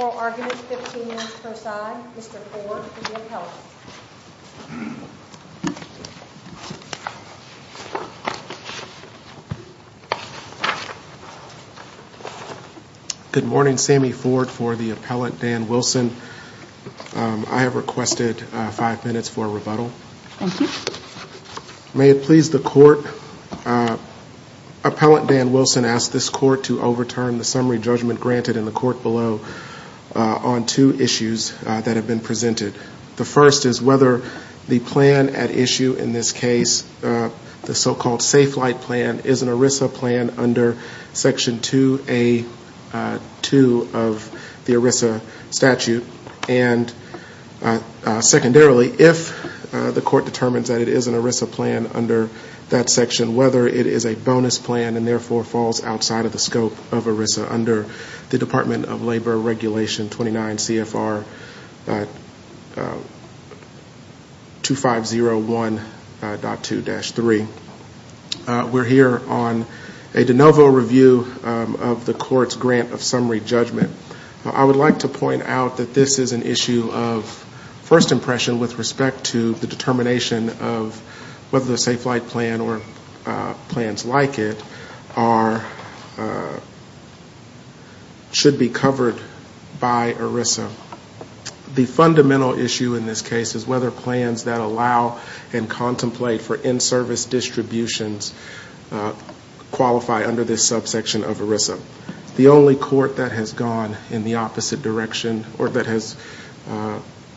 Oral arguments, 15 minutes per side. Mr. Ford for the appellate. Good morning. Sammy Ford for the appellate, Dan Wilson. I have requested five minutes for a rebuttal. May it please the court, appellate Dan Wilson asks this court to overturn the summary judgment granted in the court below on two issues that have been presented. The first is whether the plan at issue in this case, the so-called Safelite plan, is an ERISA plan under section 2A2 of the ERISA statute. And secondarily, if the court determines that it is an ERISA plan under that section, whether it is a bonus plan and therefore falls outside of the scope of ERISA under the Department of Labor Regulation 29 CFR 2501.2-3. We're here on a de novo review of the court's grant of summary judgment. I would like to point out that this is an issue of first impression with respect to the determination of whether the Safelite plan or plans like it are, should be covered by ERISA. The fundamental issue in this case is whether plans that allow and contemplate for in-service distributions qualify under this subsection of ERISA. The only court that has gone in the opposite direction or that has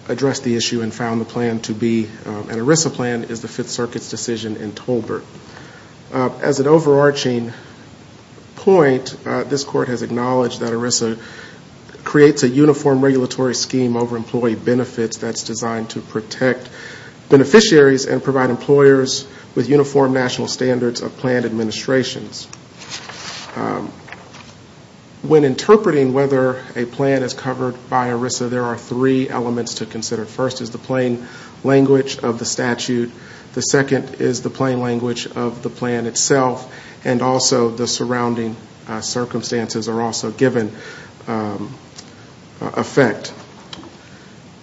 addressed the issue and found the plan to be an ERISA plan is the Fifth Circuit's decision in Tolbert. As an overarching point, this court has acknowledged that ERISA creates a uniform regulatory scheme over employee benefits that's designed to protect beneficiaries and provide employers with uniform national standards of plan administrations. When interpreting whether a plan is covered by ERISA, there are three elements to consider. First is the plain language of the statute. The second is the plain language of the plan itself and also the surrounding circumstances are also given effect.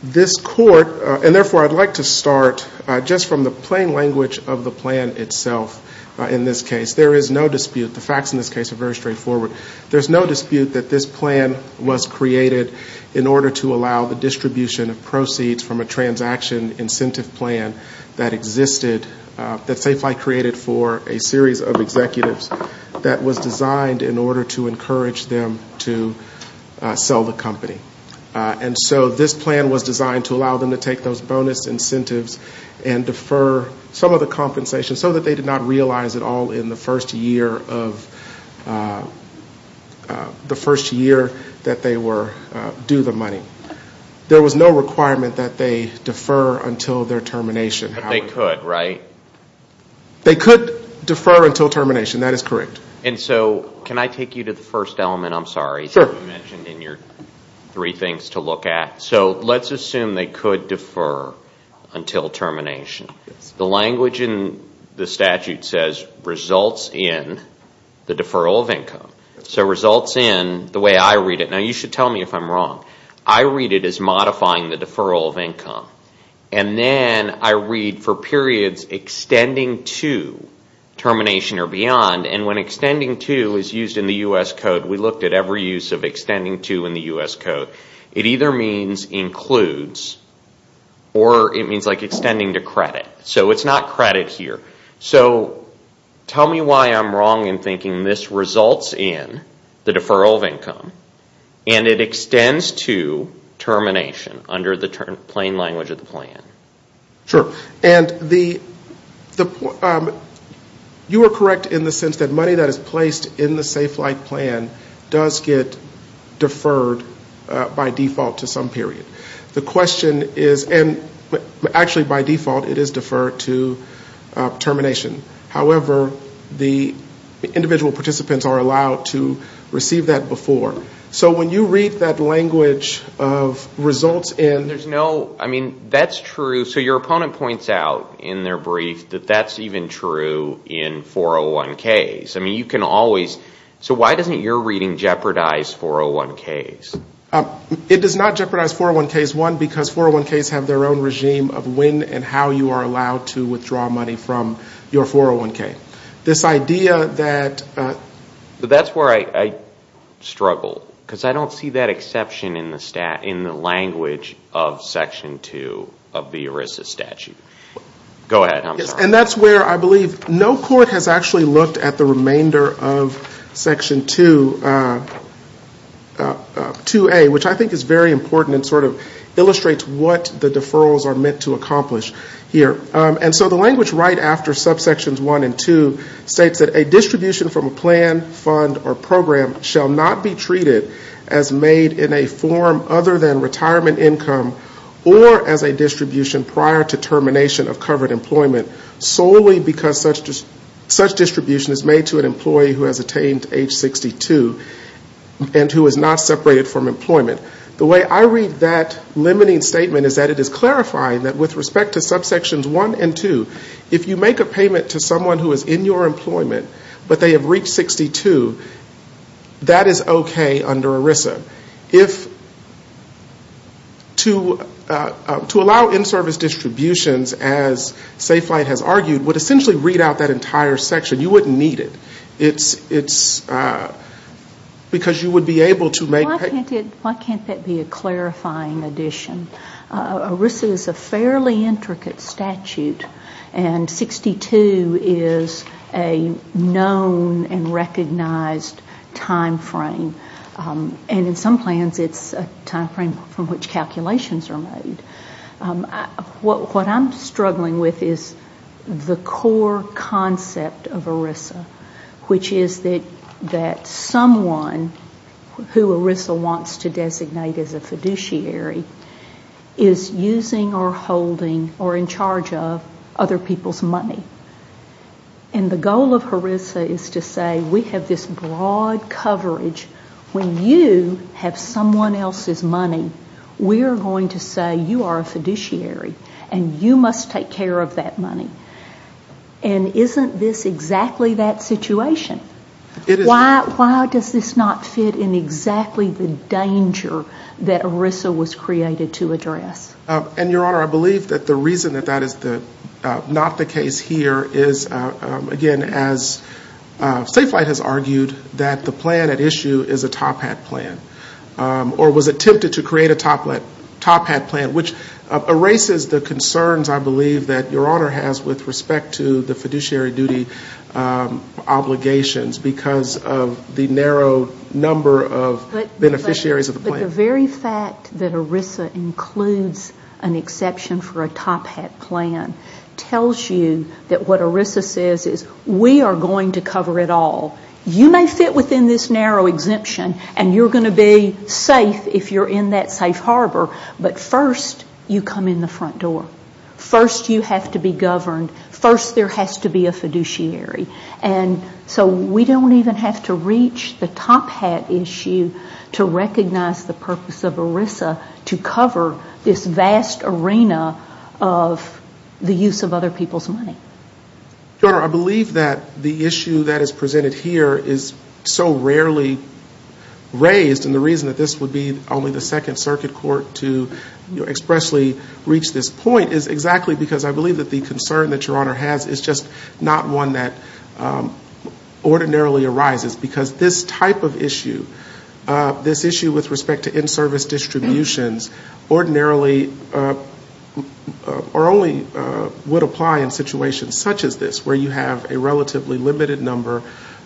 This court, and therefore I'd like to start just from the plain language of the plan itself in this case. There is no dispute. The facts in this case are very straightforward. There's no dispute that this plan was created in order to allow the distribution of proceeds from a transaction incentive plan that existed, that Safe Flight created for a series of executives that was designed in order to encourage them to sell the company. And so this plan was designed to allow them to take those bonus incentives and defer some of the compensation so that they did not realize it all in the first year that they were due the money. There was no requirement that they defer until their termination. But they could, right? They could defer until termination, that is correct. And so can I take you to the first element, I'm sorry, that you mentioned in your three things to look at. So let's assume they could defer until termination. The language in the statute says results in the deferral of income. So results in, the way I read it, now you should tell me if I'm wrong, I read it as modifying the deferral of income. And then I read for periods extending to termination or beyond. And when extending to is used in the U.S. Code, we looked at every use of extending to in the U.S. Code. It either means includes or it means like extending to credit. So it's not credit here. So tell me why I'm wrong in thinking this results in the deferral of income and it extends to termination under the plain language of the plan. Sure. And you are correct in the sense that money that is placed in the Safe Flight Plan does get deferred by default to some period. The question is, and actually by default it is deferred to termination. However, the individual participants are allowed to receive that before. So when you read that language of results in. There's no, I mean, that's true. So your opponent points out in their brief that that's even true in 401Ks. I mean, you can always, so why doesn't your reading jeopardize 401Ks? It does not jeopardize 401Ks, one, because 401Ks have their own regime of when and how you are allowed to withdraw money from your 401K. This idea that. That's where I struggle. Because I don't see that exception in the language of Section 2 of the ERISA statute. Go ahead. And that's where I believe no court has actually looked at the remainder of Section 2A, which I think is very important and sort of illustrates what the deferrals are meant to accomplish here. And so the language right after subsections 1 and 2 states that a distribution from a plan, fund, or program shall not be treated as made in a form other than retirement income or as a distribution prior to termination of covered employment solely because such distribution is made to an employee who has attained age 62 and who is not separated from employment. The way I read that limiting statement is that it is clarifying that with respect to subsections 1 and 2, if you make a payment to someone who is in your employment but they have reached 62, that is okay under ERISA. If, to allow in-service distributions, as Safe Flight has argued, would essentially read out that entire section. You wouldn't need it. It's because you would be able to make payments. Why can't that be a clarifying addition? ERISA is a fairly intricate statute and 62 is a known and recognized time frame. And in some plans it's a time frame from which calculations are made. What I'm struggling with is the core concept of ERISA. Which is that someone who ERISA wants to designate as a fiduciary is using or holding or in charge of other people's money. And the goal of ERISA is to say we have this broad coverage. When you have someone else's money, we are going to say you are a fiduciary and you must take care of that money. And isn't this exactly that situation? Why does this not fit in exactly the danger that ERISA was created to address? Your Honor, I believe that the reason that that is not the case here is, again, as Safe Flight has argued, that the plan at issue is a top hat plan. Or was attempted to create a top hat plan, which erases the concerns I believe that Your Honor has with respect to the fiduciary duty obligations because of the narrow number of beneficiaries of the plan. But the very fact that ERISA includes an exception for a top hat plan tells you that what ERISA says is we are going to cover it all. You may fit within this narrow exemption and you have to be governed. First there has to be a fiduciary. So we don't even have to reach the top hat issue to recognize the purpose of ERISA to cover this vast arena of the use of other people's money. Your Honor, I believe that the issue that is presented here is so rarely raised and the reason that this would be only the Second Circuit Court to expressly reach this point is exactly because I believe that the concern that Your Honor has is just not one that ordinarily arises because this type of issue, this issue with respect to in-service distributions ordinarily or only would apply in situations such as this where you have a relatively limited number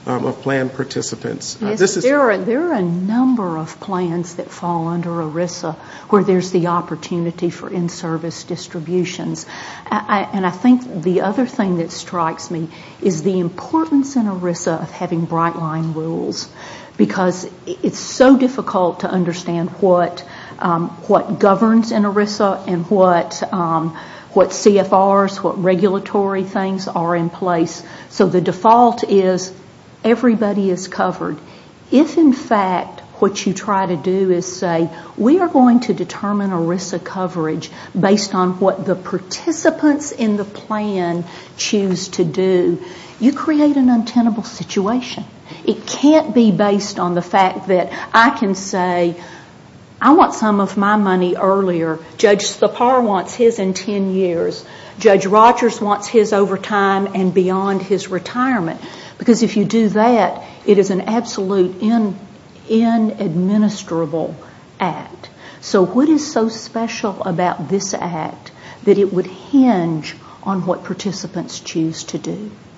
of plan participants. There are a number of plans that fall under ERISA where there is the opportunity for in-service distributions. And I think the other thing that strikes me is the importance in ERISA of having bright line rules because it is so difficult to understand what governs in ERISA and what CFRs, what regulatory things are in place. So the default is everybody is covered. If in fact what you try to do is say we are going to determine ERISA coverage based on what the participants in the plan choose to do, you create an untenable situation. It can't be based on the fact that I can say I want some of my money earlier. Judge Sipar wants his in ten years. Judge Rogers wants his over time and beyond his retirement because if you do that, it is an absolute inadministrable act. So what is so special about this act that it would hinge on what participants choose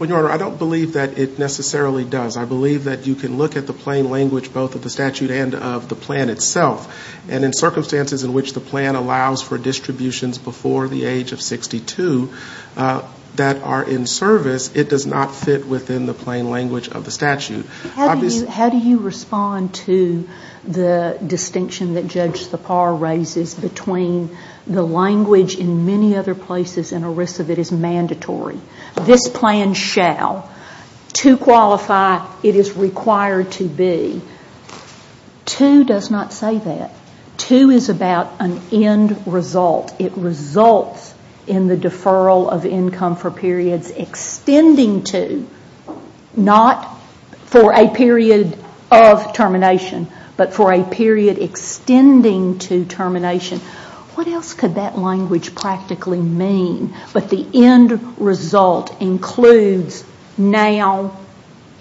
Well, Your Honor, I don't believe that it necessarily does. I believe that you can look at the plain language both of the statute and of the plan itself. And in circumstances in which the plan allows for distributions before the age of 62 that are in service, it does not fit within the plain language of the statute. How do you respond to the distinction that Judge Sipar raises between the language in many other places and ERISA that is mandatory? This plan shall. To qualify, it is required to be. To does not say that. To is about an end result. It results in the deferral of for a period of termination, but for a period extending to termination. What else could that language practically mean? But the end result includes now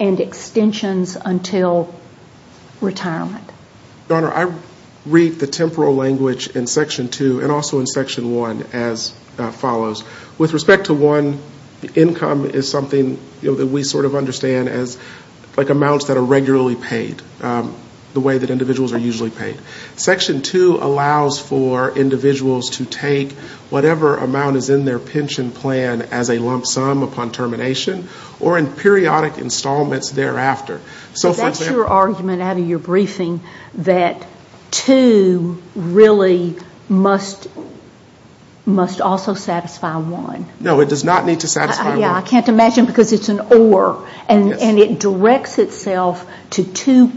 and extensions until retirement. Your Honor, I read the temporal language in section two and also in section one as follows. With respect to one, income is something that we sort of understand as amounts that are regularly paid the way that individuals are usually paid. Section two allows for individuals to take whatever amount is in their pension plan as a lump sum upon termination or in periodic installments thereafter. So that's your argument out of your briefing that two really must also satisfy one. No, it does not need to satisfy one. I can't imagine because it's an or and it directs itself to two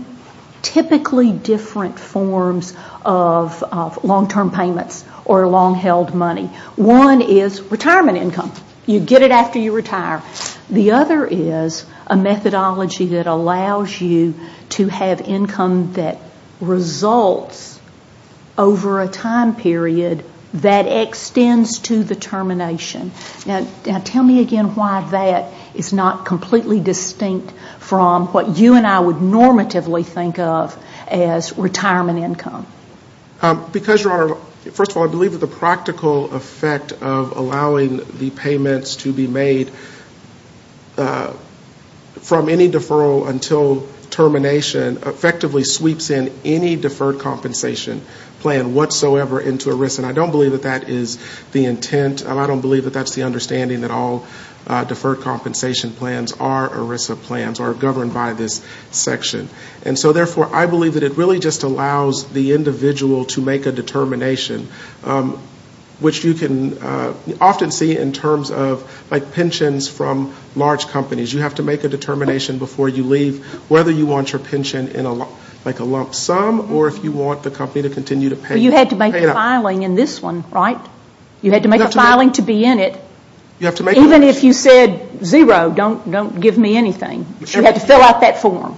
typically different forms of long term payments or long held money. One is retirement income. You get it after you retire. The other is a methodology that allows you to have income that results in over a time period that extends to the termination. Now tell me again why that is not completely distinct from what you and I would normatively think of as retirement income. Because Your Honor, first of all I believe that the practical effect of allowing the payments to be made from any deferral until termination effectively sweeps in any deferred compensation plan whatsoever into ERISA. And I don't believe that that is the intent. I don't believe that that's the understanding that all deferred compensation plans are ERISA plans or are governed by this section. And so therefore I believe that it really just allows the individual to make a determination which you can often see in terms of like pensions from large companies. You have to make a determination before you leave whether you want your pension in like a lump sum or if you want the company to continue to pay up. But you had to make a filing in this one, right? You had to make a filing to be in it. Even if you said zero, don't give me anything. You have to fill out that form.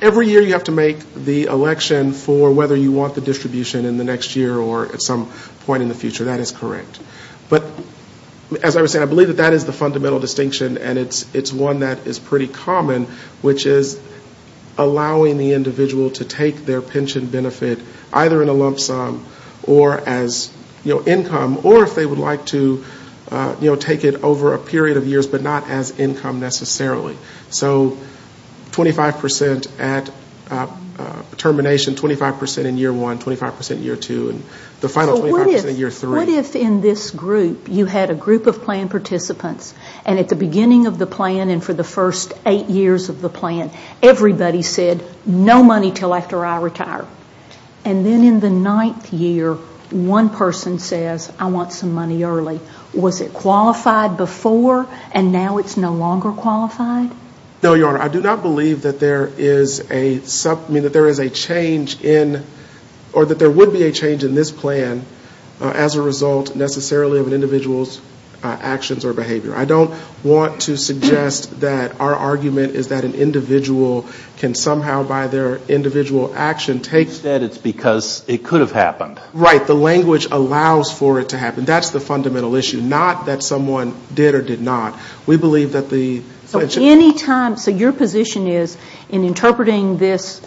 Every year you have to make the election for whether you want the distribution in the next year or at some point in the future. That is correct. But as I was saying, I believe that that is the fundamental distinction and it's one that is pretty common, which is allowing the individual to take their pension benefit either in a lump sum or as income or if they would like to take it over a period of years but not as income necessarily. So 25% at termination, 25% in year one, 25% in year two, and the final 25% in year three. What if in this group, you had a group of plan participants and at the beginning of the plan and for the first eight years of the plan, everybody said no money until after I retire. Then in the ninth year, one person says I want some money early. Was it qualified before and now it's no longer qualified? No, Your Honor. I do not believe that there is a change in or that there would be a change in this plan as a result necessarily of an individual's actions or behavior. I don't want to suggest that our argument is that an individual can somehow by their individual action take... You said it's because it could have happened. Right. The language allows for it to happen. That's the fundamental issue. Not that someone did or did not. We believe that the... Your position is in interpreting this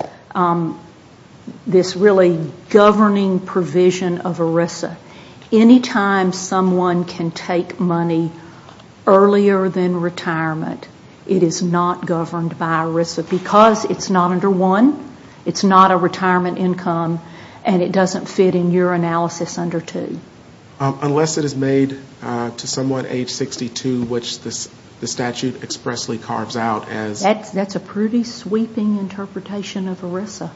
really governing provision of ERISA, anytime someone can take money earlier than retirement, it is not governed by ERISA because it's not under one, it's not a retirement income, and it doesn't fit in your analysis under two. Unless it is made to someone age 62, which the statute expressly carves out as... That's a pretty sweeping interpretation of ERISA.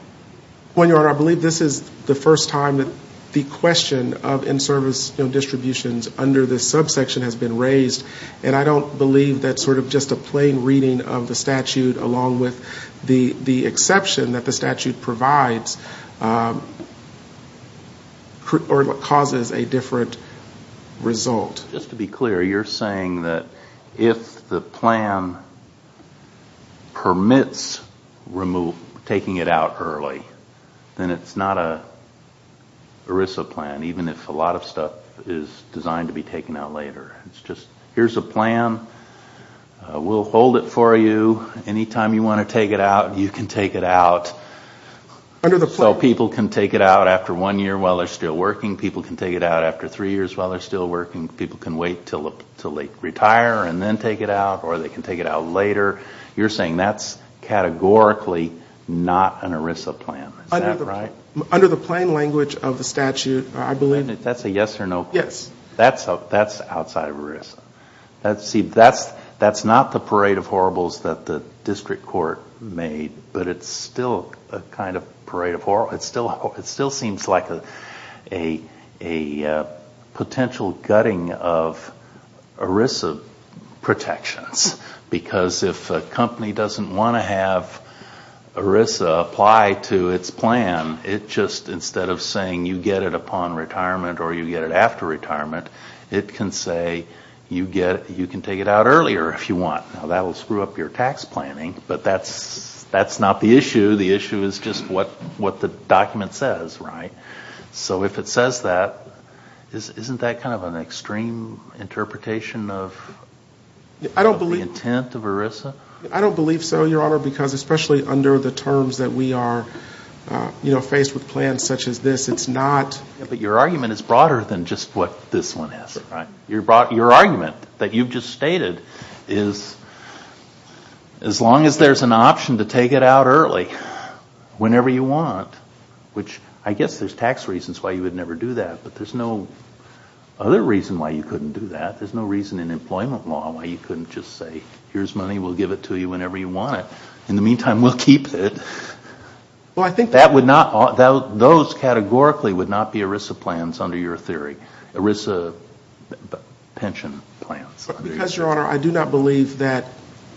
Well, Your Honor, I believe this is the first time that the question of in-service distributions under this subsection has been raised, and I don't believe that just a plain reading of the statute along with the exception that the statute provides or causes a difference result. Just to be clear, you're saying that if the plan permits taking it out early, then it's not an ERISA plan, even if a lot of stuff is designed to be taken out later. It's just here's a plan, we'll hold it for you, anytime you want to take it out, you can take it out. People can take it out after one year while they're still working, people can take it out after three years while they're still working, people can wait until they retire and then take it out, or they can take it out later. You're saying that's categorically not an ERISA plan, is that right? Under the plain language of the statute, I believe... That's a yes or no? Yes. That's outside of ERISA. That's not the parade of horribles that the district court made, but it still seems like a potential gutting of ERISA protections, because if a company doesn't want to have ERISA apply to its plan, it just instead of saying you get it upon retirement or you get it after retirement, it can say you can take it out earlier if you want. Now that will screw up your tax planning, but that's not the issue, the issue is just what the document says, right? So if it says that, isn't that kind of an extreme interpretation of the intent of ERISA? I don't believe so, Your Honor, because especially under the terms that we are faced with plans such as this, it's not... Your argument is broader than just what this one is, right? Your argument that you've just stated is as long as there's an option to take it out early, whenever you want, which I guess there's tax reasons why you would never do that, but there's no other reason why you couldn't do that. There's no reason in employment law why you couldn't just say here's money, we'll give it to you whenever you want it. In the meantime, we'll keep it. Those categorically would not be ERISA plans under your theory, ERISA pension plans. Because, Your Honor, I do not believe that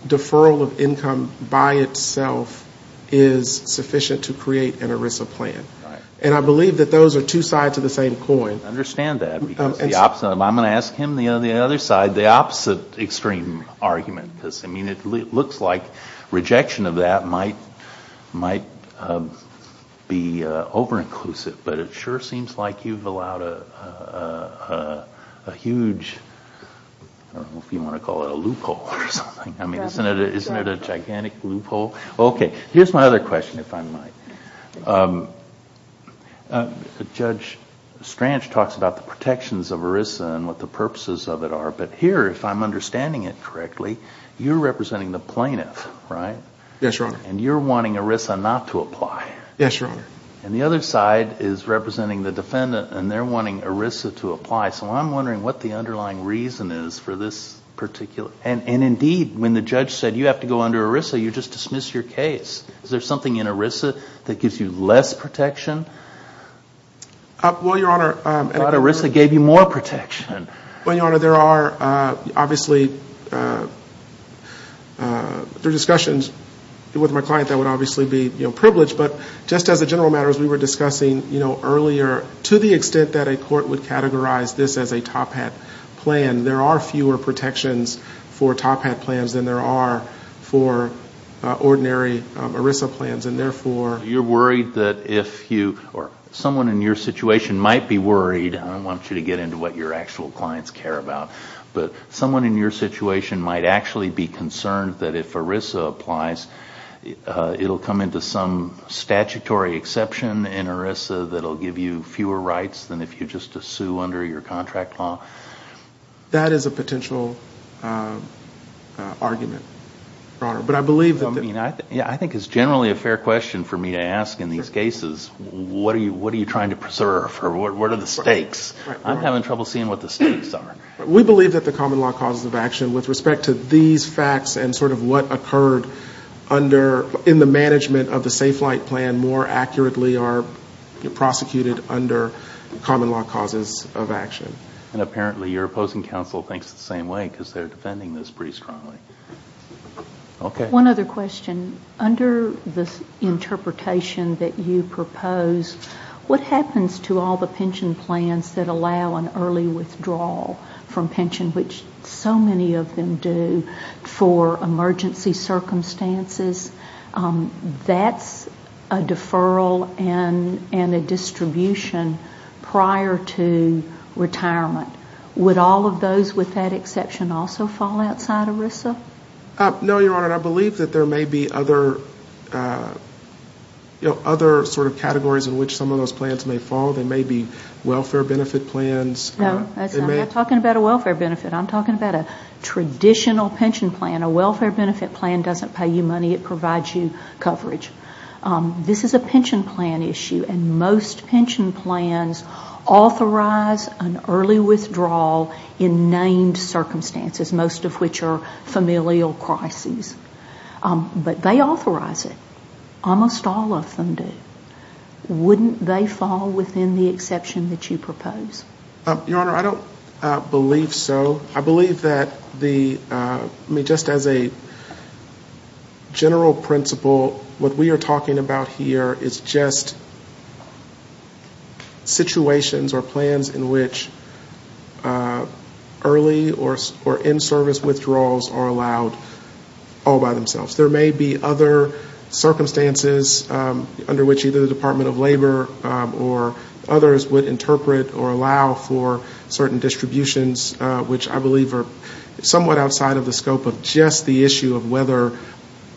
deferral of income by itself is sufficient to create an ERISA plan. And I believe that those are two sides of the same coin. Understand that, because the opposite, I'm going to ask him the other side, the opposite extreme argument, because it looks like rejection of that might be over-inclusive, but it sure seems like you've allowed a huge, I don't know if you want to call it a loophole or something. I mean, isn't it a gigantic loophole? Okay. Here's my other question, if I might. Judge Stranch talks about the protections of ERISA and what the purposes of it are, but here, if I'm understanding it correctly, you're representing the plaintiff, right? Yes, Your Honor. And you're wanting ERISA not to apply. Yes, Your Honor. And the other side is representing the defendant, and they're wanting ERISA to apply. So I'm wondering what the underlying reason is for this particular... And indeed, when the judge said you have to go under ERISA, you just dismiss your case. Is there something in ERISA that gives you less protection? Well, Your Honor... But ERISA gave you more protection. Well, Your Honor, there are, obviously, there are discussions with my client that would obviously be privileged, but just as a general matter, as we were discussing earlier, to the extent that a court would categorize this as a top hat plan, there are fewer protections for top hat plans than there are for ordinary ERISA plans, and therefore... You're worried that if you, or someone in your situation might be worried, and I don't want you to get into what your actual clients care about, but someone in your situation might actually be concerned that if ERISA applies, it'll come into some statutory exception in ERISA that'll give you fewer rights than if you just assume under your contract law? That is a potential argument, Your Honor. But I believe that... I mean, I think it's generally a fair question for me to ask in these cases. What are you trying to preserve, or what are the stakes? I'm having trouble seeing what the stakes are. We believe that the common law causes of action, with respect to these facts and sort of what occurred under, in the management of the Safe Flight Plan, more accurately are prosecuted under common law causes of action. And apparently your opposing counsel thinks the same way, because they're defending this pretty strongly. Okay. One other question. Under this interpretation that you propose, what happens to all the pension plans that allow an early withdrawal from pension, which so many of them do for emergency circumstances? That's a deferral and a distribution prior to retirement. Would all of those, with that exception, also fall outside ERISA? No, Your Honor. I believe that there may be other sort of categories in which some of those plans may fall. There may be welfare benefit plans. No, I'm not talking about a welfare benefit. I'm talking about a traditional pension plan. A welfare benefit plan doesn't pay you money. It provides you coverage. This is a pension plan issue, and most pension plans authorize an early withdrawal in named circumstances, most of which are familial crises. But they authorize it. Almost all of them do. Wouldn't they fall within the exception that you propose? Your Honor, I don't believe so. I believe that just as a general principle, what we are talking about here is just situations or plans in which early or in-service withdrawals are allowed all by themselves. There may be other circumstances under which either the Department of Labor or others would interpret or allow for certain distributions, which I believe are somewhat outside of the scope of just the issue of whether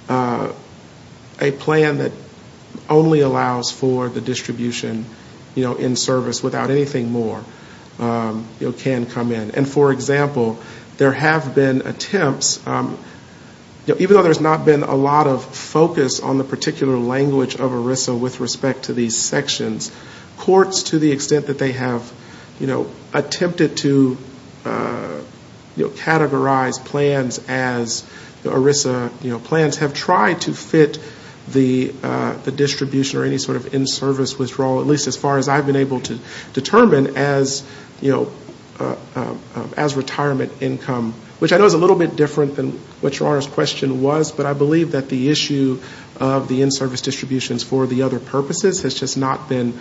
a plan that only allows for the distribution in service without anything more can come in. For example, there have been attempts, even though there's not been a lot of focus on the particular language of ERISA with respect to these sections, courts, to the extent that they have attempted to categorize plans as ERISA plans, have tried to fit the distribution or any sort of in-service withdrawal, at least as far as I've been able to determine, as retirement income, which I know is a little bit different than what Your Honor's question was, but I believe that the issue of the in-service distributions for the other purposes has just not been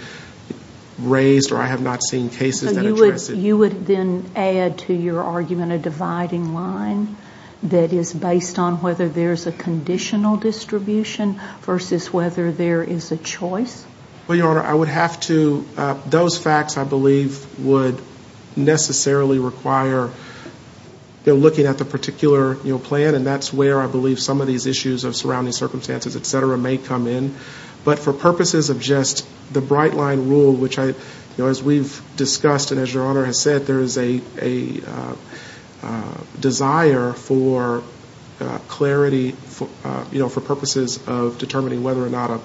raised or I have not seen cases that address it. So you would then add to your argument a dividing line that is based on whether there's a conditional distribution versus whether there is a choice? Well, Your Honor, I would have to, those facts I believe would necessarily require looking at the particular plan and that's where I believe some of these issues of surrounding circumstances, et cetera, may come in. But for purposes of just the bright line rule, which as we've discussed and as Your Honor has said, there is a desire for clarity, you know, for purposes of determining whether or not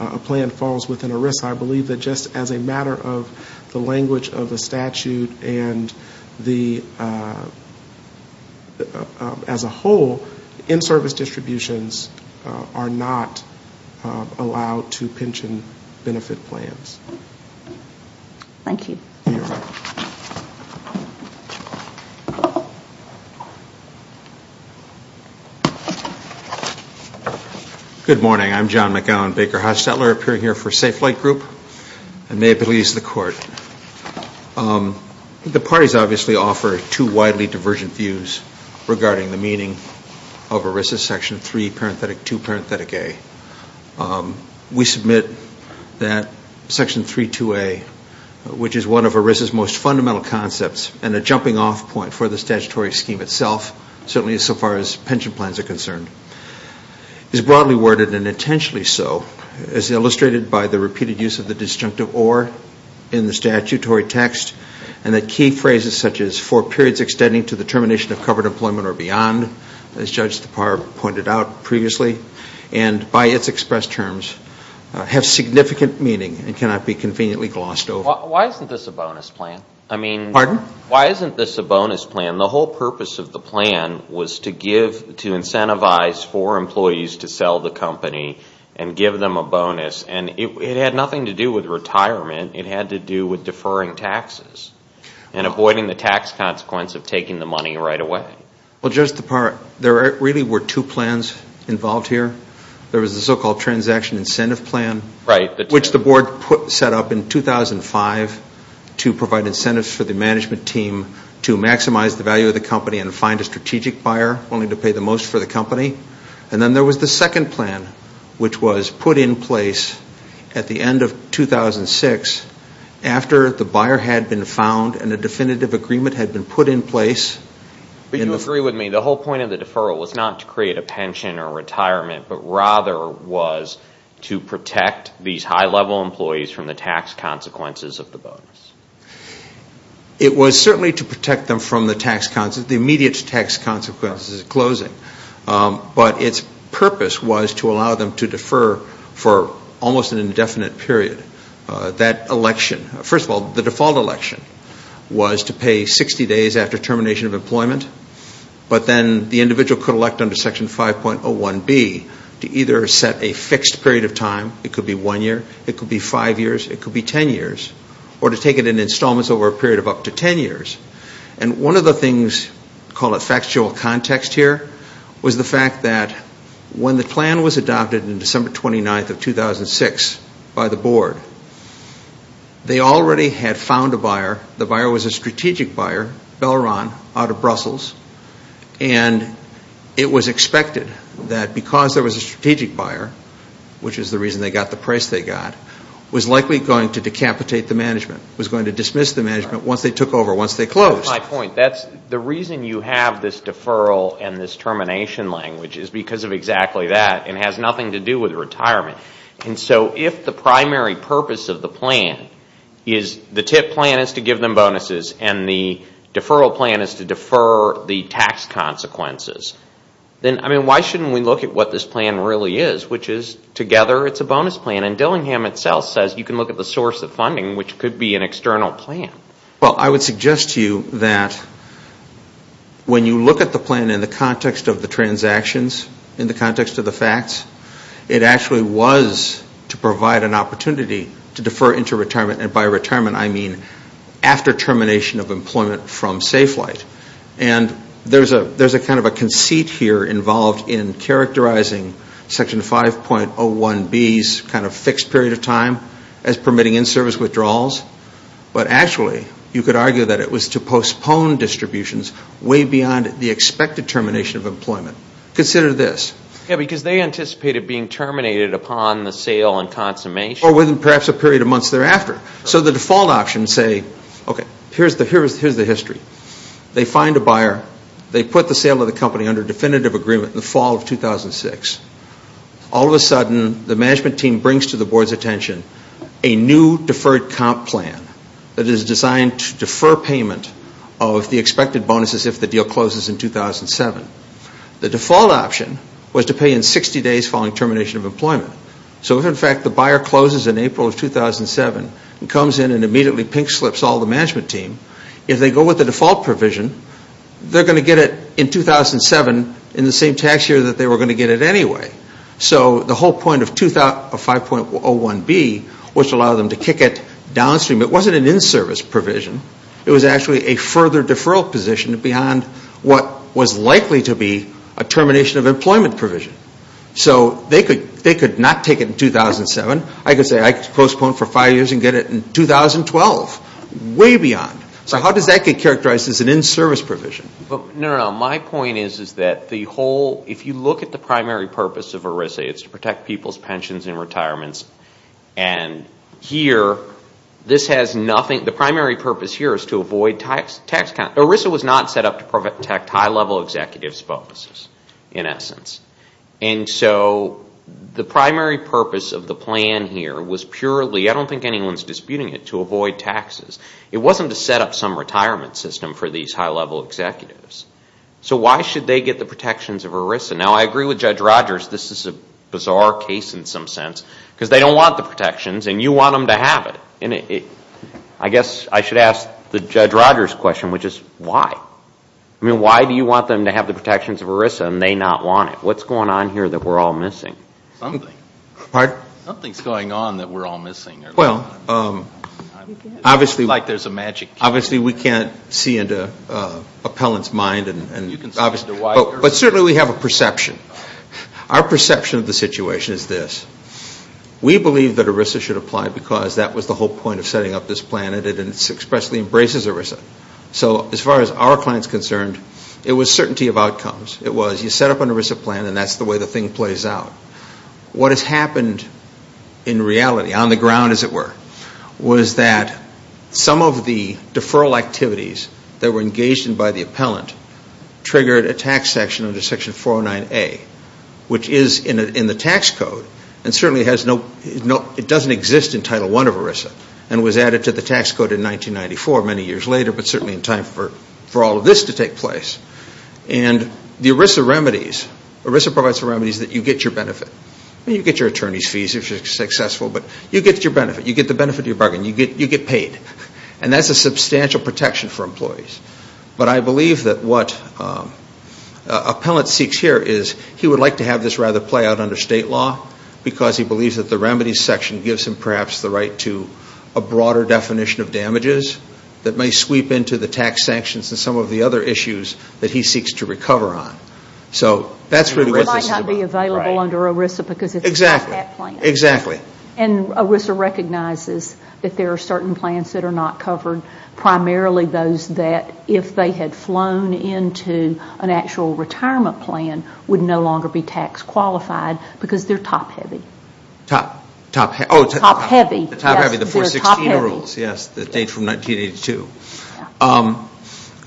a plan falls within ERISA, I believe that just as a matter of the language of the statute and the, as a whole, in-service distributions are not allowed to pension benefit plans. Thank you. Good morning. I'm John McAllen, Baker Hossettler, appearing here for Safe Flight Group and may it please the Court. The parties obviously offer two widely divergent views regarding the meaning of ERISA Section 3, which is one of ERISA's most fundamental concepts and a jumping off point for the statutory scheme itself, certainly as far as pension plans are concerned. It is broadly worded and intentionally so as illustrated by the repeated use of the disjunctive or in the statutory text and the key phrases such as for periods extending to the termination of covered employment or beyond, as Judge DePauw pointed out previously, and by its expressed terms, have significant meaning and cannot be conveniently glossed over. Why isn't this a bonus plan? I mean, why isn't this a bonus plan? The whole purpose of the plan was to give, to incentivize for employees to sell the company and give them a bonus and it had nothing to do with retirement. It had to do with deferring taxes and avoiding the tax consequence of taking the money right away. Well, Judge DePauw, there really were two plans involved here. There was the so-called transaction incentive plan, which the board set up in 2005 to provide incentives for the management team to maximize the value of the company and find a strategic buyer willing to pay the most for the company. And then there was the second plan, which was put in place at the end of 2006 after the buyer had been found and a definitive agreement had been put in place. But you agree with me. The whole point of the deferral was not to create a pension or retirement, but rather was to protect these high-level employees from the tax consequences of the bonus. It was certainly to protect them from the immediate tax consequences of closing, but its purpose was to allow them to defer for almost an indefinite period. That election, first of all, the default election was to pay 60 days after termination of employment, but then the individual could elect under Section 5.01B to either set a fixed period of time, it could be one year, it could be five years, it could be ten years, or to take it in installments over a period of up to ten years. And one of the things, call it factual context here, was the fact that when the plan was adopted in December 29th of 2006 by the board, they already had found a buyer. The buyer was a strategic buyer, Belron, out of Brussels, and it was expected that because there was a strategic buyer, which is the reason they got the price they got, was likely going to decapitate the management, was going to dismiss the management once they took over, once they closed. That's my point. The reason you have this deferral and this termination language is because of exactly that. It has nothing to do with retirement. And so if the primary purpose of the plan is the TIP plan is to give them bonuses and the deferral plan is to defer the tax consequences, then why shouldn't we look at what this plan really is, which is together it's a bonus plan. And Dillingham itself says you can look at the source of funding, which could be an external plan. Well, I would suggest to you that when you look at the plan in the context of the transactions, in the context of the facts, it actually was to provide an opportunity to defer into retirement, and by retirement I mean after termination of employment from Safe Flight. And there's a kind of a conceit here involved in characterizing Section 5.01B's kind of fixed period of time as permitting in-service withdrawals, but actually you could argue that it was to postpone distributions way beyond the expected termination of employment. Consider this. Yeah, because they anticipated being terminated upon the sale and consummation. Or within perhaps a period of months thereafter. So the default options say, okay, here's the history. They find a buyer. They put the sale of the company under definitive agreement in the fall of 2006. All of a sudden the management team brings to the board's attention a new deferred comp plan that is designed to defer payment of the expected bonuses if the deal closes in 2007. The default option was to pay in 60 days following termination of employment. So if, in fact, the buyer closes in April of 2007 and comes in and immediately pink slips all the management team, if they go with the default provision, they're going to get it in 2007 in the same tax year that they were going to get it anyway. So the whole point of 5.01B was to allow them to kick it downstream. It wasn't an in-service provision. It was actually a further deferral position beyond what was likely to be a termination of employment provision. So they could not take it in 2007. I could say I could postpone it for five years and get it in 2012. Way beyond. So how does that get characterized as an in-service provision? No, no, no. My point is that if you look at the primary purpose of ERISA, it's to protect people's pensions and retirements. The primary purpose here is to avoid tax cuts. ERISA was not set up to protect high-level executives' bonuses in essence. And so the primary purpose of the plan here was purely, I don't think anyone's disputing it, to avoid taxes. It wasn't to set up some retirement system for these high-level executives. So why should they get the protections of ERISA? Now, I agree with Judge Rogers this is a bizarre case in some sense because they don't want the protections and you want them to have it. I guess I should ask the Judge Rogers question, which is why? I mean, why do you want them to have the protections of ERISA and they not want it? What's going on here that we're all missing? Something. Pardon? Something's going on that we're all missing. Well, obviously we can't see into appellant's mind. But certainly we have a perception. Our perception of the situation is this, we believe that ERISA should apply because that was the whole point of setting up this plan and it expressly embraces ERISA. So as far as our client's concerned, it was certainty of outcomes. It was you set up an ERISA plan and that's the way the thing plays out. What has happened in reality, on the ground as it were, was that some of the deferral activities that were engaged in by the appellant triggered a tax section under Section 409A, which is in the tax code and certainly it doesn't exist in Title I of ERISA and was added to the tax code in 1994, many years later, but certainly in time for all of this to take place. And the ERISA remedies, ERISA provides the remedies that you get your benefit. You get your attorney's fees if you're successful, but you get your benefit. You get the benefit of your bargain. You get paid. And that's a substantial protection for employees. But I believe that what appellant seeks here is he would like to have this rather play out under state law because he believes that the remedies section gives him perhaps the right to a broader definition of damages that may sweep into the tax sanctions and some of the other issues that he seeks to recover on. So that's really what this is about. It might not be available under ERISA because it's not that plan. Exactly. And ERISA recognizes that there are certain plans that are not covered, primarily those that if they had flown into an actual retirement plan would no longer be tax qualified because they're top heavy. Top heavy. The top heavy, the 416 rules, yes, the date from 1982.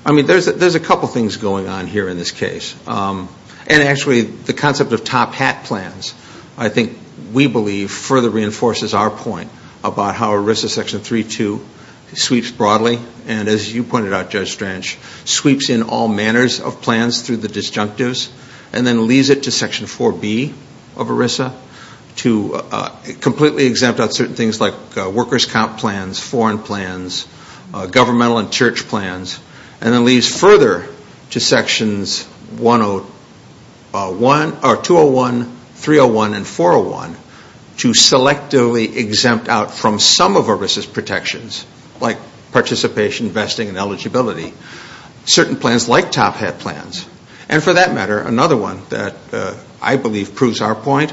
I mean there's a couple things going on here in this case. And actually the concept of top hat plans I think we believe further reinforces our point about how ERISA section 3.2 sweeps broadly and, as you pointed out, Judge Strange, sweeps in all manners of plans through the disjunctives and then leaves it to section 4B of ERISA to completely exempt out certain things like workers' comp plans, foreign plans, governmental and church plans, and then leaves further to sections 201, 301, and 401 to selectively exempt out from some of ERISA's protections like participation, vesting, and eligibility. Certain plans like top hat plans. And for that matter, another one that I believe proves our point,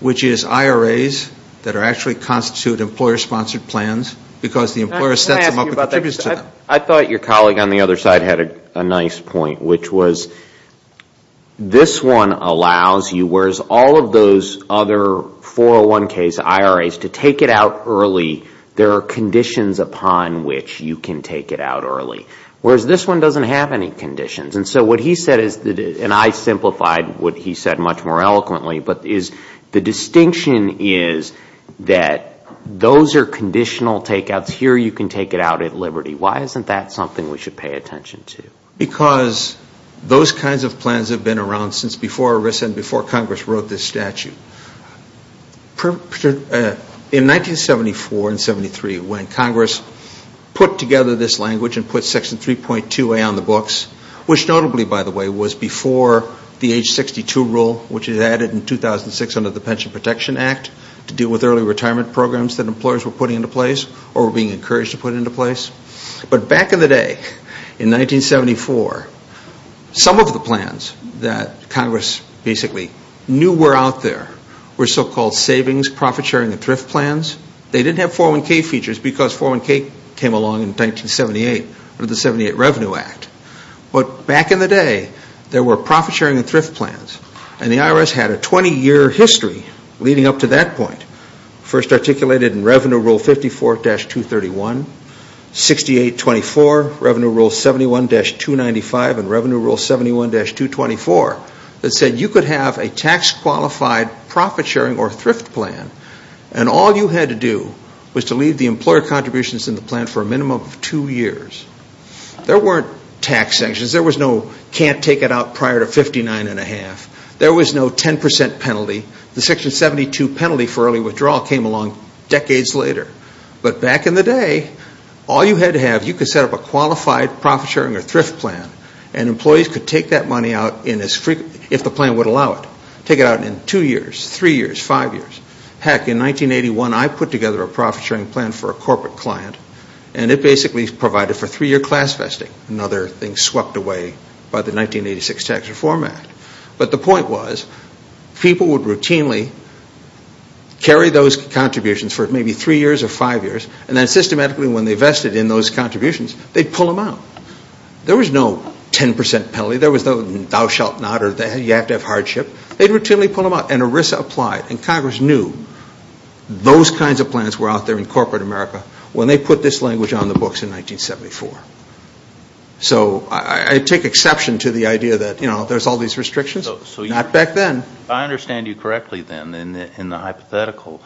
which is IRAs that actually constitute employer-sponsored plans because the employer sets them up and contributes to them. I thought your colleague on the other side had a nice point, which was this one allows you, whereas all of those other 401ks, IRAs, to take it out early, there are conditions upon which you can take it out early. Whereas this one doesn't have any conditions. And so what he said is, and I simplified what he said much more eloquently, but the distinction is that those are conditional takeouts. Here you can take it out at liberty. Why isn't that something we should pay attention to? Because those kinds of plans have been around since before ERISA and before Congress wrote this statute. In 1974 and 73, when Congress put together this language and put Section 3.2A on the books, which notably, by the way, was before the age 62 rule, which is added in 2006 under the Pension Protection Act to deal with early retirement programs that employers were putting into place or were being encouraged to put into place. But back in the day, in 1974, some of the plans that Congress basically knew were out there were so-called savings, profit-sharing, and thrift plans. They didn't have 401k features because 401k came along in 1978 under the 78 Revenue Act. But back in the day, there were profit-sharing and thrift plans, and the IRS had a 20-year history leading up to that point. First articulated in Revenue Rule 54-231, 68-24, Revenue Rule 71-295, and Revenue Rule 71-224 that said you could have a tax-qualified profit-sharing or thrift plan, and all you had to do was to leave the employer contributions in the plan for a minimum of two years. There weren't tax sanctions. There was no can't take it out prior to 59 1⁄2. There was no 10% penalty. The Section 72 penalty for early withdrawal came along decades later. But back in the day, all you had to have, you could set up a qualified profit-sharing or thrift plan, and employees could take that money out if the plan would allow it. Take it out in two years, three years, five years. Heck, in 1981, I put together a profit-sharing plan for a corporate client, and it basically provided for three-year class vesting, another thing swept away by the 1986 Tax Reform Act. But the point was people would routinely carry those contributions for maybe three years or five years, and then systematically when they vested in those contributions, they'd pull them out. There was no 10% penalty. There was no thou shalt not or you have to have hardship. They'd routinely pull them out, and ERISA applied, and Congress knew those kinds of plans were out there in corporate America when they put this language on the books in 1974. So I take exception to the idea that there's all these restrictions. Not back then. I understand you correctly then in the hypothetical.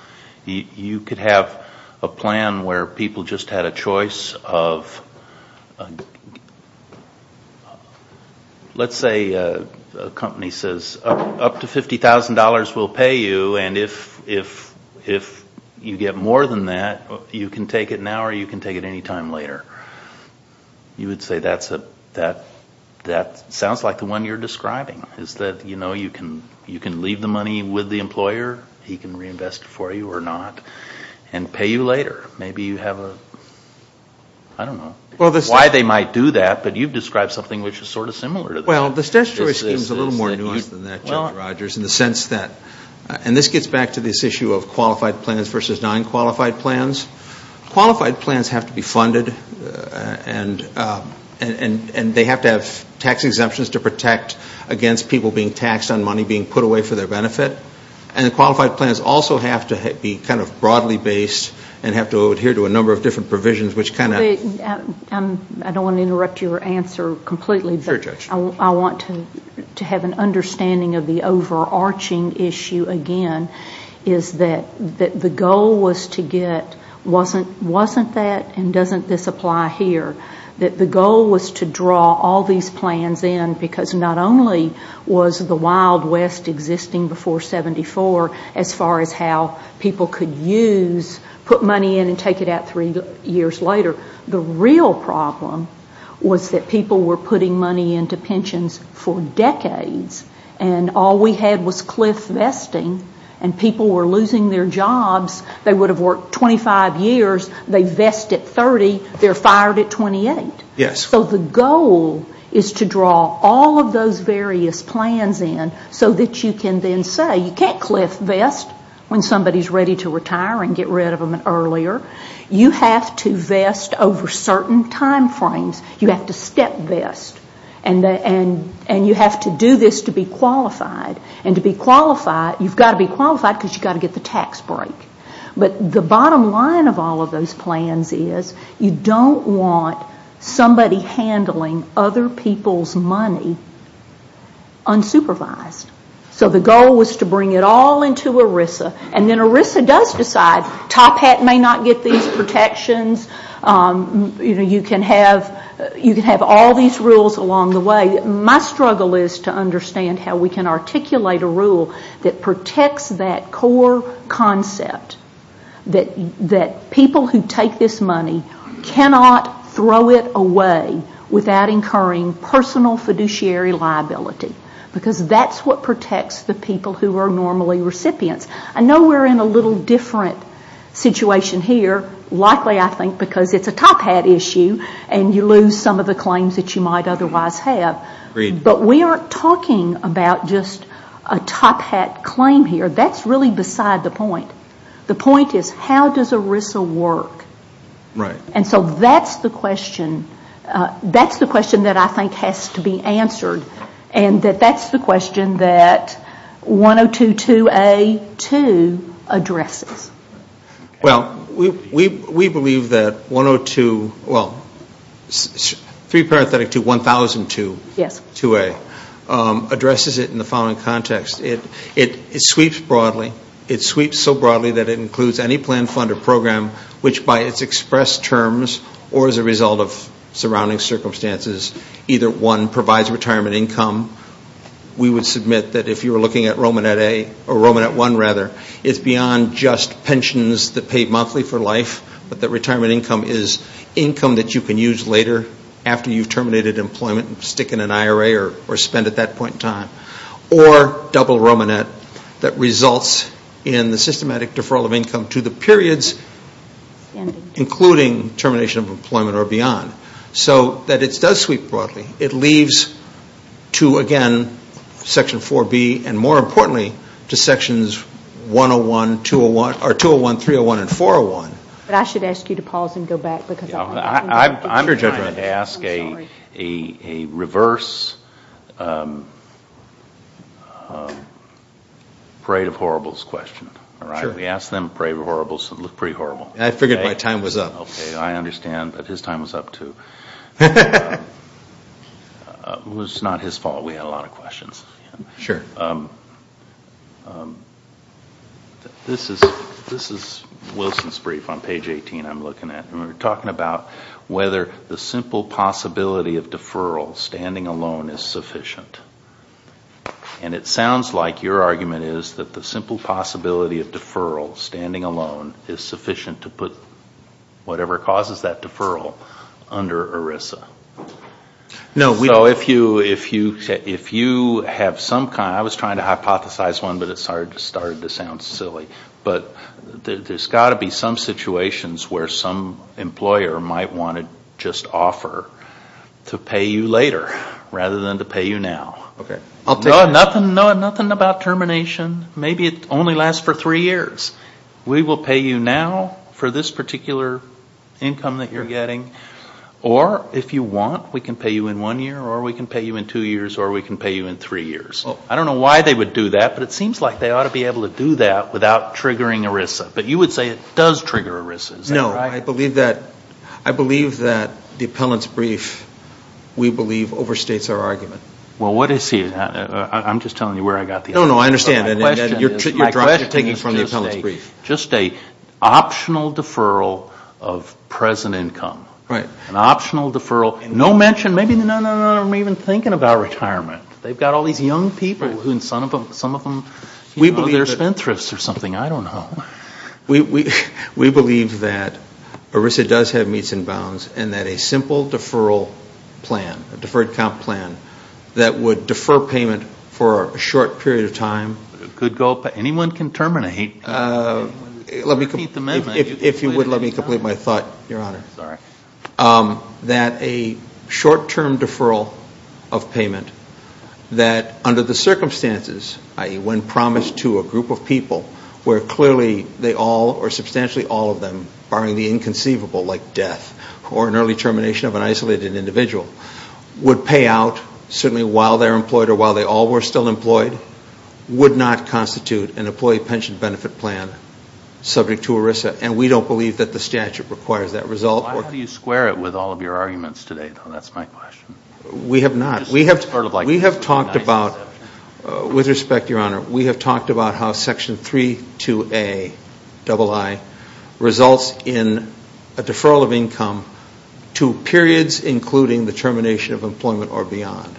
You could have a plan where people just had a choice of, let's say a company says, up to $50,000 we'll pay you, and if you get more than that, you can take it now or you can take it any time later. You would say that sounds like the one you're describing, is that you can leave the money with the employer, he can reinvest it for you or not, and pay you later. Maybe you have a, I don't know why they might do that, but you've described something which is sort of similar to that. Well, the statutory scheme is a little more nuanced than that, Judge Rogers, in the sense that, and this gets back to this issue of qualified plans versus non-qualified plans. Qualified plans have to be funded, and they have to have tax exemptions to protect against people being taxed on money being put away for their benefit. And qualified plans also have to be kind of broadly based and have to adhere to a number of different provisions which kind of. I don't want to interrupt your answer completely. Sure, Judge. I want to have an understanding of the overarching issue again, is that the goal was to get, wasn't that and doesn't this apply here, that the goal was to draw all these plans in because not only was the Wild West existing before 74 as far as how people could use, put money in and take it out three years later. The real problem was that people were putting money into pensions for decades and all we had was cliff vesting and people were losing their jobs. They would have worked 25 years. They vest at 30. They're fired at 28. Yes. So the goal is to draw all of those various plans in so that you can then say, you can't cliff vest when somebody is ready to retire and get rid of them earlier. You have to vest over certain time frames. You have to step vest and you have to do this to be qualified. And to be qualified, you've got to be qualified because you've got to get the tax break. But the bottom line of all of those plans is you don't want somebody handling other people's money unsupervised. So the goal was to bring it all into ERISA and then ERISA does decide, Top Hat may not get these protections. You can have all these rules along the way. My struggle is to understand how we can articulate a rule that protects that core concept that people who take this money cannot throw it away without incurring personal fiduciary liability because that's what protects the people who are normally recipients. I know we're in a little different situation here, likely I think because it's a Top Hat issue and you lose some of the claims that you might otherwise have. Agreed. But we aren't talking about just a Top Hat claim here. That's really beside the point. The point is how does ERISA work? Right. And so that's the question. That's the question that I think has to be answered and that that's the question that 102.2a.2 addresses. Well, we believe that 102.2a.2 addresses it in the following context. It sweeps broadly. It sweeps so broadly that it includes any plan, fund, or program which by its expressed terms or as a result of surrounding circumstances, either one provides retirement income. We would submit that if you were looking at Romanet 1, it's beyond just pensions that pay monthly for life but that retirement income is income that you can use later after you've terminated employment and stick in an IRA or spend at that point in time. Or double Romanet that results in the systematic deferral of income to the periods, including termination of employment or beyond. So that it does sweep broadly. It leaves to, again, Section 4B and more importantly to Sections 201, 301, and 401. But I should ask you to pause and go back. I'm trying to ask a reverse Parade of Horribles question. We asked them Parade of Horribles and it looked pretty horrible. I figured my time was up. Okay, I understand. But his time was up too. It was not his fault. We had a lot of questions. Sure. This is Wilson's brief on page 18 I'm looking at. We're talking about whether the simple possibility of deferral standing alone is sufficient. And it sounds like your argument is that the simple possibility of deferral standing alone is sufficient to put whatever causes that deferral under ERISA. No, we don't. So if you have some kind of, I was trying to hypothesize one but it started to sound silly. But there's got to be some situations where some employer might want to just offer to pay you later rather than to pay you now. Okay, I'll take that. No, nothing about termination. Maybe it only lasts for three years. We will pay you now for this particular income that you're getting. Or if you want, we can pay you in one year or we can pay you in two years or we can pay you in three years. I don't know why they would do that, but it seems like they ought to be able to do that without triggering ERISA. But you would say it does trigger ERISA, is that right? No, I believe that the appellant's brief, we believe, overstates our argument. Well, what is he? I'm just telling you where I got the idea. No, no, I understand. My question is just a optional deferral of present income. Right. An optional deferral. No mention, maybe none of them are even thinking about retirement. They've got all these young people and some of them, you know, they're spendthrifts or something. I don't know. We believe that ERISA does have meets and bounds and that a simple deferral plan, a deferred comp plan that would defer payment for a short period of time. Anyone can terminate. If you would let me complete my thought, Your Honor. Sorry. That a short-term deferral of payment that under the circumstances, i.e., when promised to a group of people, where clearly they all or substantially all of them, barring the inconceivable like death or an early termination of an isolated individual, would pay out, certainly while they're employed or while they all were still employed, would not constitute an employee pension benefit plan subject to ERISA. And we don't believe that the statute requires that result. Why do you square it with all of your arguments today, though? That's my question. We have not. We have talked about, with respect, Your Honor, we have talked about how Section 32A, double I, results in a deferral of income to periods, including the termination of employment or beyond.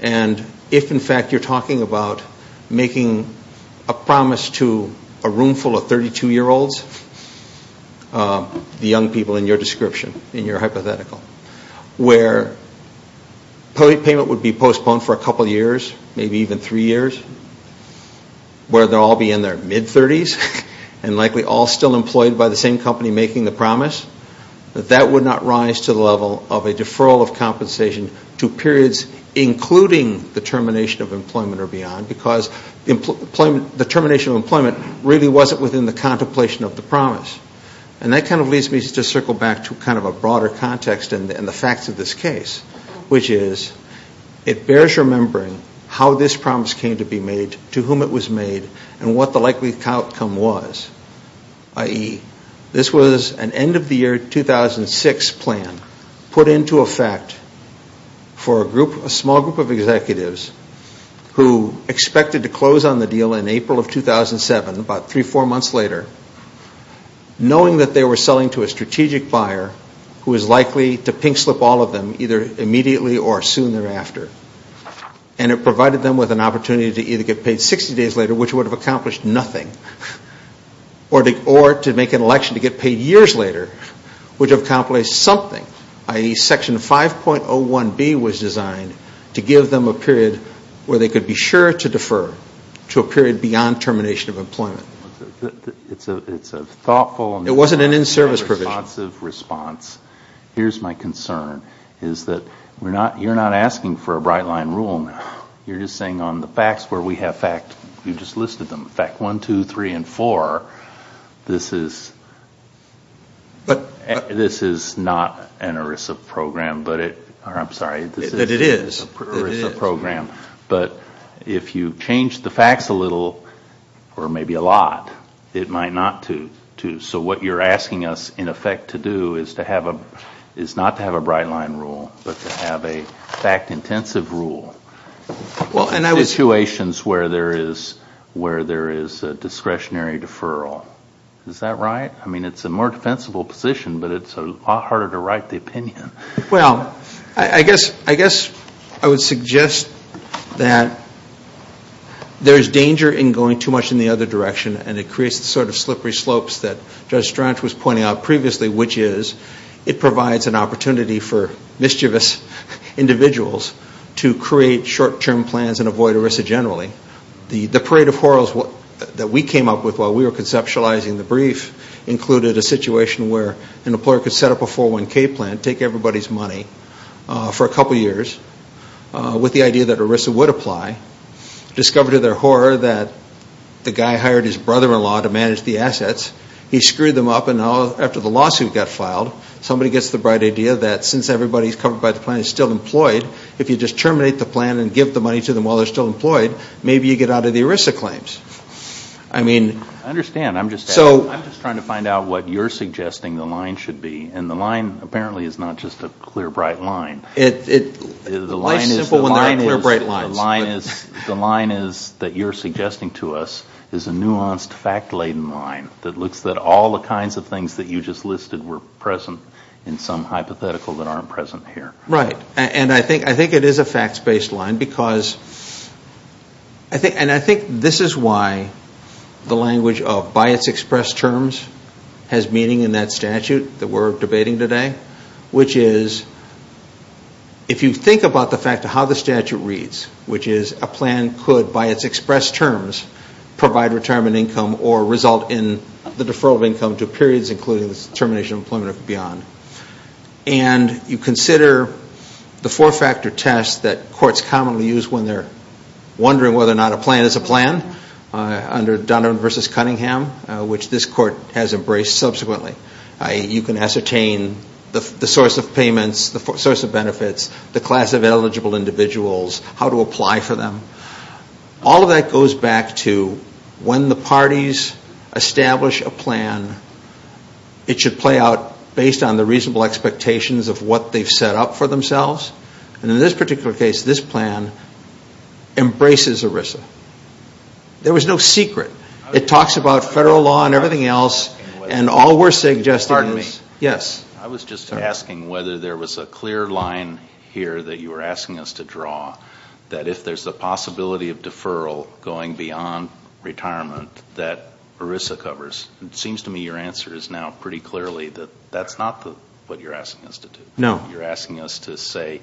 And if, in fact, you're talking about making a promise to a roomful of 32-year-olds, the young people in your description, in your hypothetical, where payment would be postponed for a couple of years, maybe even three years, where they'll all be in their mid-30s and likely all still employed by the same company making the promise, that that would not rise to the level of a deferral of compensation to periods, including the termination of employment or beyond, because the termination of employment really wasn't within the contemplation of the promise. And that kind of leads me to circle back to kind of a broader context in the facts of this case, which is it bears remembering how this promise came to be made, to whom it was made, and what the likely outcome was, i.e., this was an end-of-the-year 2006 plan put into effect for a small group of executives who expected to close on the deal in April of 2007, about three or four months later, knowing that they were selling to a strategic buyer who was likely to pink slip all of them either immediately or soon thereafter. And it provided them with an opportunity to either get paid 60 days later, which would have accomplished nothing, or to make an election to get paid years later, which accomplished something, i.e., Section 5.01B was designed to give them a period where they could be sure to defer to a period beyond termination of employment. It's a thoughtful and responsive response. It wasn't an in-service provision. Here's my concern, is that you're not asking for a bright-line rule now. You're just saying on the facts where we have fact, you just listed them, fact one, two, three, and four, this is not an ERISA program, or I'm sorry, this is an ERISA program. But if you change the facts a little, or maybe a lot, it might not to. So what you're asking us, in effect, to do is not to have a bright-line rule, but to have a fact-intensive rule in situations where there is a discretionary deferral. Is that right? I mean, it's a more defensible position, but it's a lot harder to write the opinion. Well, I guess I would suggest that there is danger in going too much in the other direction, and it creates the sort of slippery slopes that Judge Strach was pointing out previously, which is it provides an opportunity for mischievous individuals to create short-term plans and avoid ERISA generally. The parade of horrors that we came up with while we were conceptualizing the brief included a situation where an employer could set up a 401k plan, take everybody's money for a couple years, with the idea that ERISA would apply, discover to their horror that the guy hired his brother-in-law to manage the assets. He screwed them up, and now after the lawsuit got filed, somebody gets the bright idea that since everybody's covered by the plan is still employed, if you just terminate the plan and give the money to them while they're still employed, maybe you get out of the ERISA claims. I understand. I'm just trying to find out what you're suggesting the line should be, and the line apparently is not just a clear, bright line. Life's simple when there are clear, bright lines. The line that you're suggesting to us is a nuanced, fact-laden line that looks at all the kinds of things that you just listed were present in some hypothetical that aren't present here. Right, and I think it is a facts-based line, and I think this is why the language of by its expressed terms has meaning in that statute that we're debating today, which is if you think about the fact of how the statute reads, which is a plan could by its expressed terms provide retirement income or result in the deferral of income to periods including the termination of employment and beyond, and you consider the four-factor test that courts commonly use when they're wondering whether or not a plan is a plan under Donovan v. Cunningham, which this court has embraced subsequently. You can ascertain the source of payments, the source of benefits, the class of eligible individuals, how to apply for them. All of that goes back to when the parties establish a plan, it should play out based on the reasonable expectations of what they've set up for themselves, and in this particular case, this plan embraces ERISA. There was no secret. It talks about federal law and everything else, and all we're suggesting is yes. I was just asking whether there was a clear line here that you were asking us to draw, that if there's a possibility of deferral going beyond retirement, that ERISA covers. It seems to me your answer is now pretty clearly that that's not what you're asking us to do. No. You're asking us to say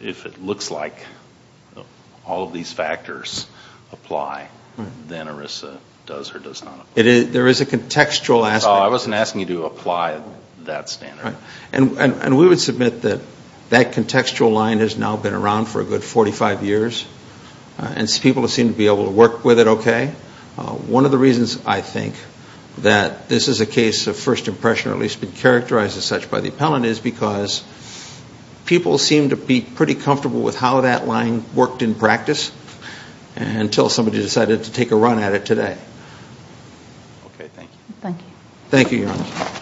if it looks like all of these factors apply, then ERISA does or does not apply. There is a contextual aspect. I wasn't asking you to apply that standard. And we would submit that that contextual line has now been around for a good 45 years, and people seem to be able to work with it okay. One of the reasons, I think, that this is a case of first impression, or at least been characterized as such by the appellant, is because people seem to be pretty comfortable with how that line worked in practice until somebody decided to take a run at it today. Okay, thank you. Thank you. Thank you.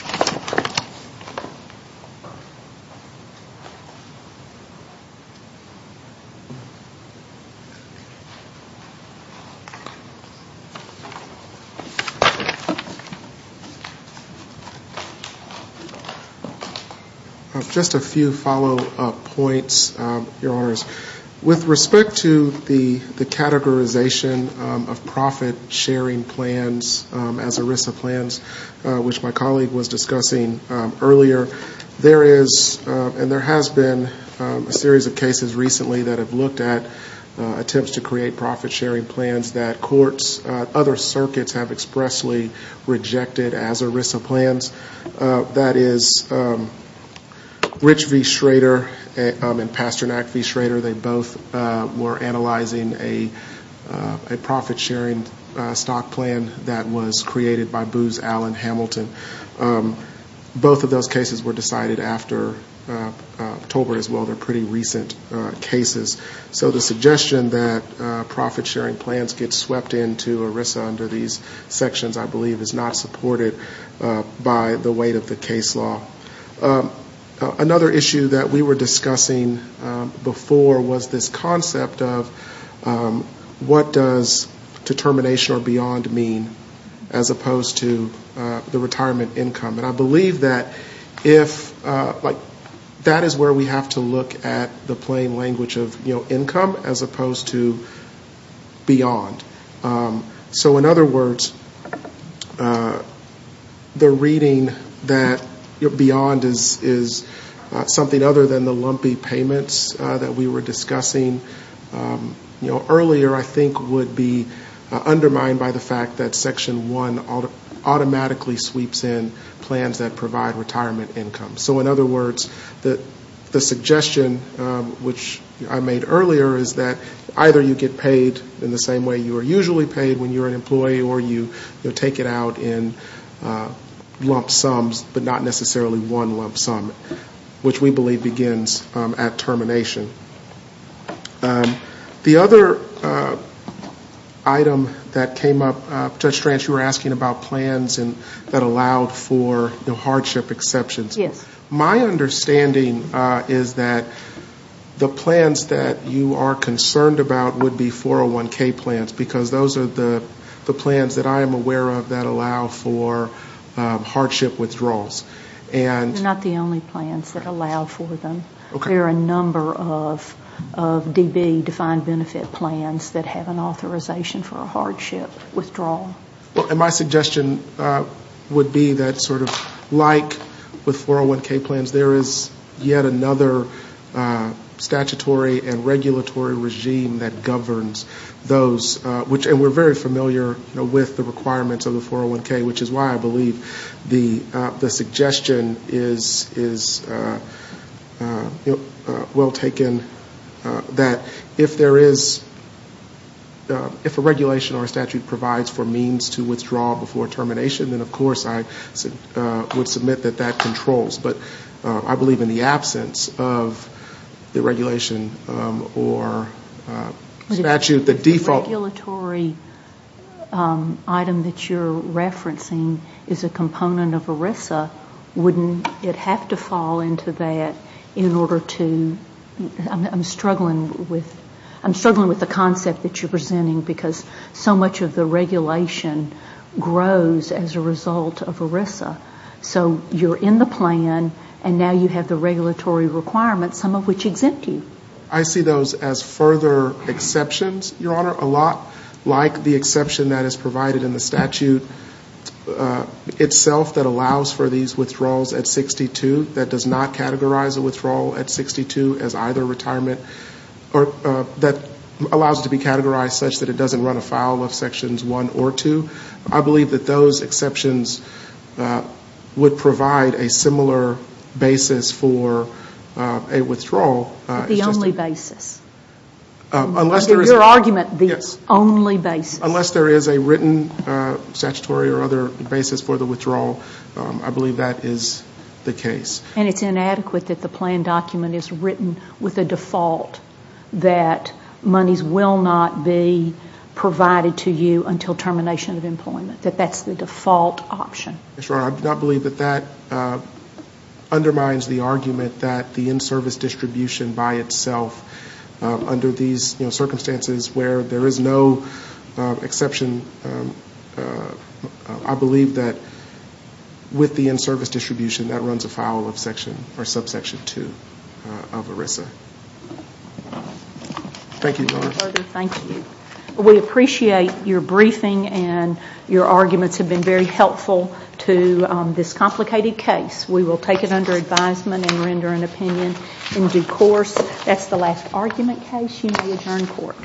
Just a few follow-up points, Your Honors. With respect to the categorization of profit-sharing plans as ERISA plans, which my colleague was discussing earlier, there is and there has been a series of cases recently that have looked at attempts to create profit-sharing plans that courts, other circuits have expressly rejected as ERISA plans. That is Rich v. Schrader and Pasternak v. Schrader, they both were analyzing a profit-sharing stock plan that was created by Booz Allen Hamilton. Both of those cases were decided after October as well. They're pretty recent cases. So the suggestion that profit-sharing plans get swept into ERISA under these sections, I believe, is not supported by the weight of the case law. Another issue that we were discussing before was this concept of what does determination or beyond mean as opposed to the retirement income. And I believe that if, like, that is where we have to look at the plain language of, you know, income as opposed to beyond. So in other words, the reading that beyond is something other than the lumpy payments that we were discussing, you know, earlier I think would be undermined by the fact that Section 1 automatically sweeps in plans that provide retirement income. So in other words, the suggestion, which I made earlier, is that either you get paid in the same way you are usually paid when you're an employee or you take it out in lump sums but not necessarily one lump sum, which we believe begins at termination. The other item that came up, Judge Stranch, you were asking about plans that allowed for hardship exceptions. My understanding is that the plans that you are concerned about would be 401K plans because those are the plans that I am aware of that allow for hardship withdrawals. They're not the only plans that allow for them. There are a number of DB, defined benefit plans, that have an authorization for a hardship withdrawal. And my suggestion would be that sort of like with 401K plans, there is yet another statutory and regulatory regime that governs those, and we're very familiar with the requirements of the 401K, which is why I believe the suggestion is well taken, that if a regulation or a statute provides for means to withdraw before termination, then of course I would submit that that controls. But I believe in the absence of the regulation or statute, the default... The regulatory item that you're referencing is a component of ERISA. Wouldn't it have to fall into that in order to... I'm struggling with the concept that you're presenting because so much of the regulation grows as a result of ERISA. So you're in the plan, and now you have the regulatory requirements, some of which exempt you. I see those as further exceptions, Your Honor, a lot like the exception that is provided in the statute itself that allows for these withdrawals at 62, that does not categorize a withdrawal at 62 as either retirement, or that allows it to be categorized such that it doesn't run afoul of Sections 1 or 2. I believe that those exceptions would provide a similar basis for a withdrawal. The only basis. Your argument, the only basis. Unless there is a written statutory or other basis for the withdrawal, I believe that is the case. And it's inadequate that the plan document is written with a default, that monies will not be provided to you until termination of employment, that that's the default option. Your Honor, I do not believe that that undermines the argument that the in-service distribution by itself, under these circumstances where there is no exception, I believe that with the in-service distribution, that runs afoul of Section or subsection 2 of ERISA. Thank you, Your Honor. Thank you. We appreciate your briefing and your arguments have been very helpful to this complicated case. We will take it under advisement and render an opinion in due course. That's the last argument case. You may adjourn court.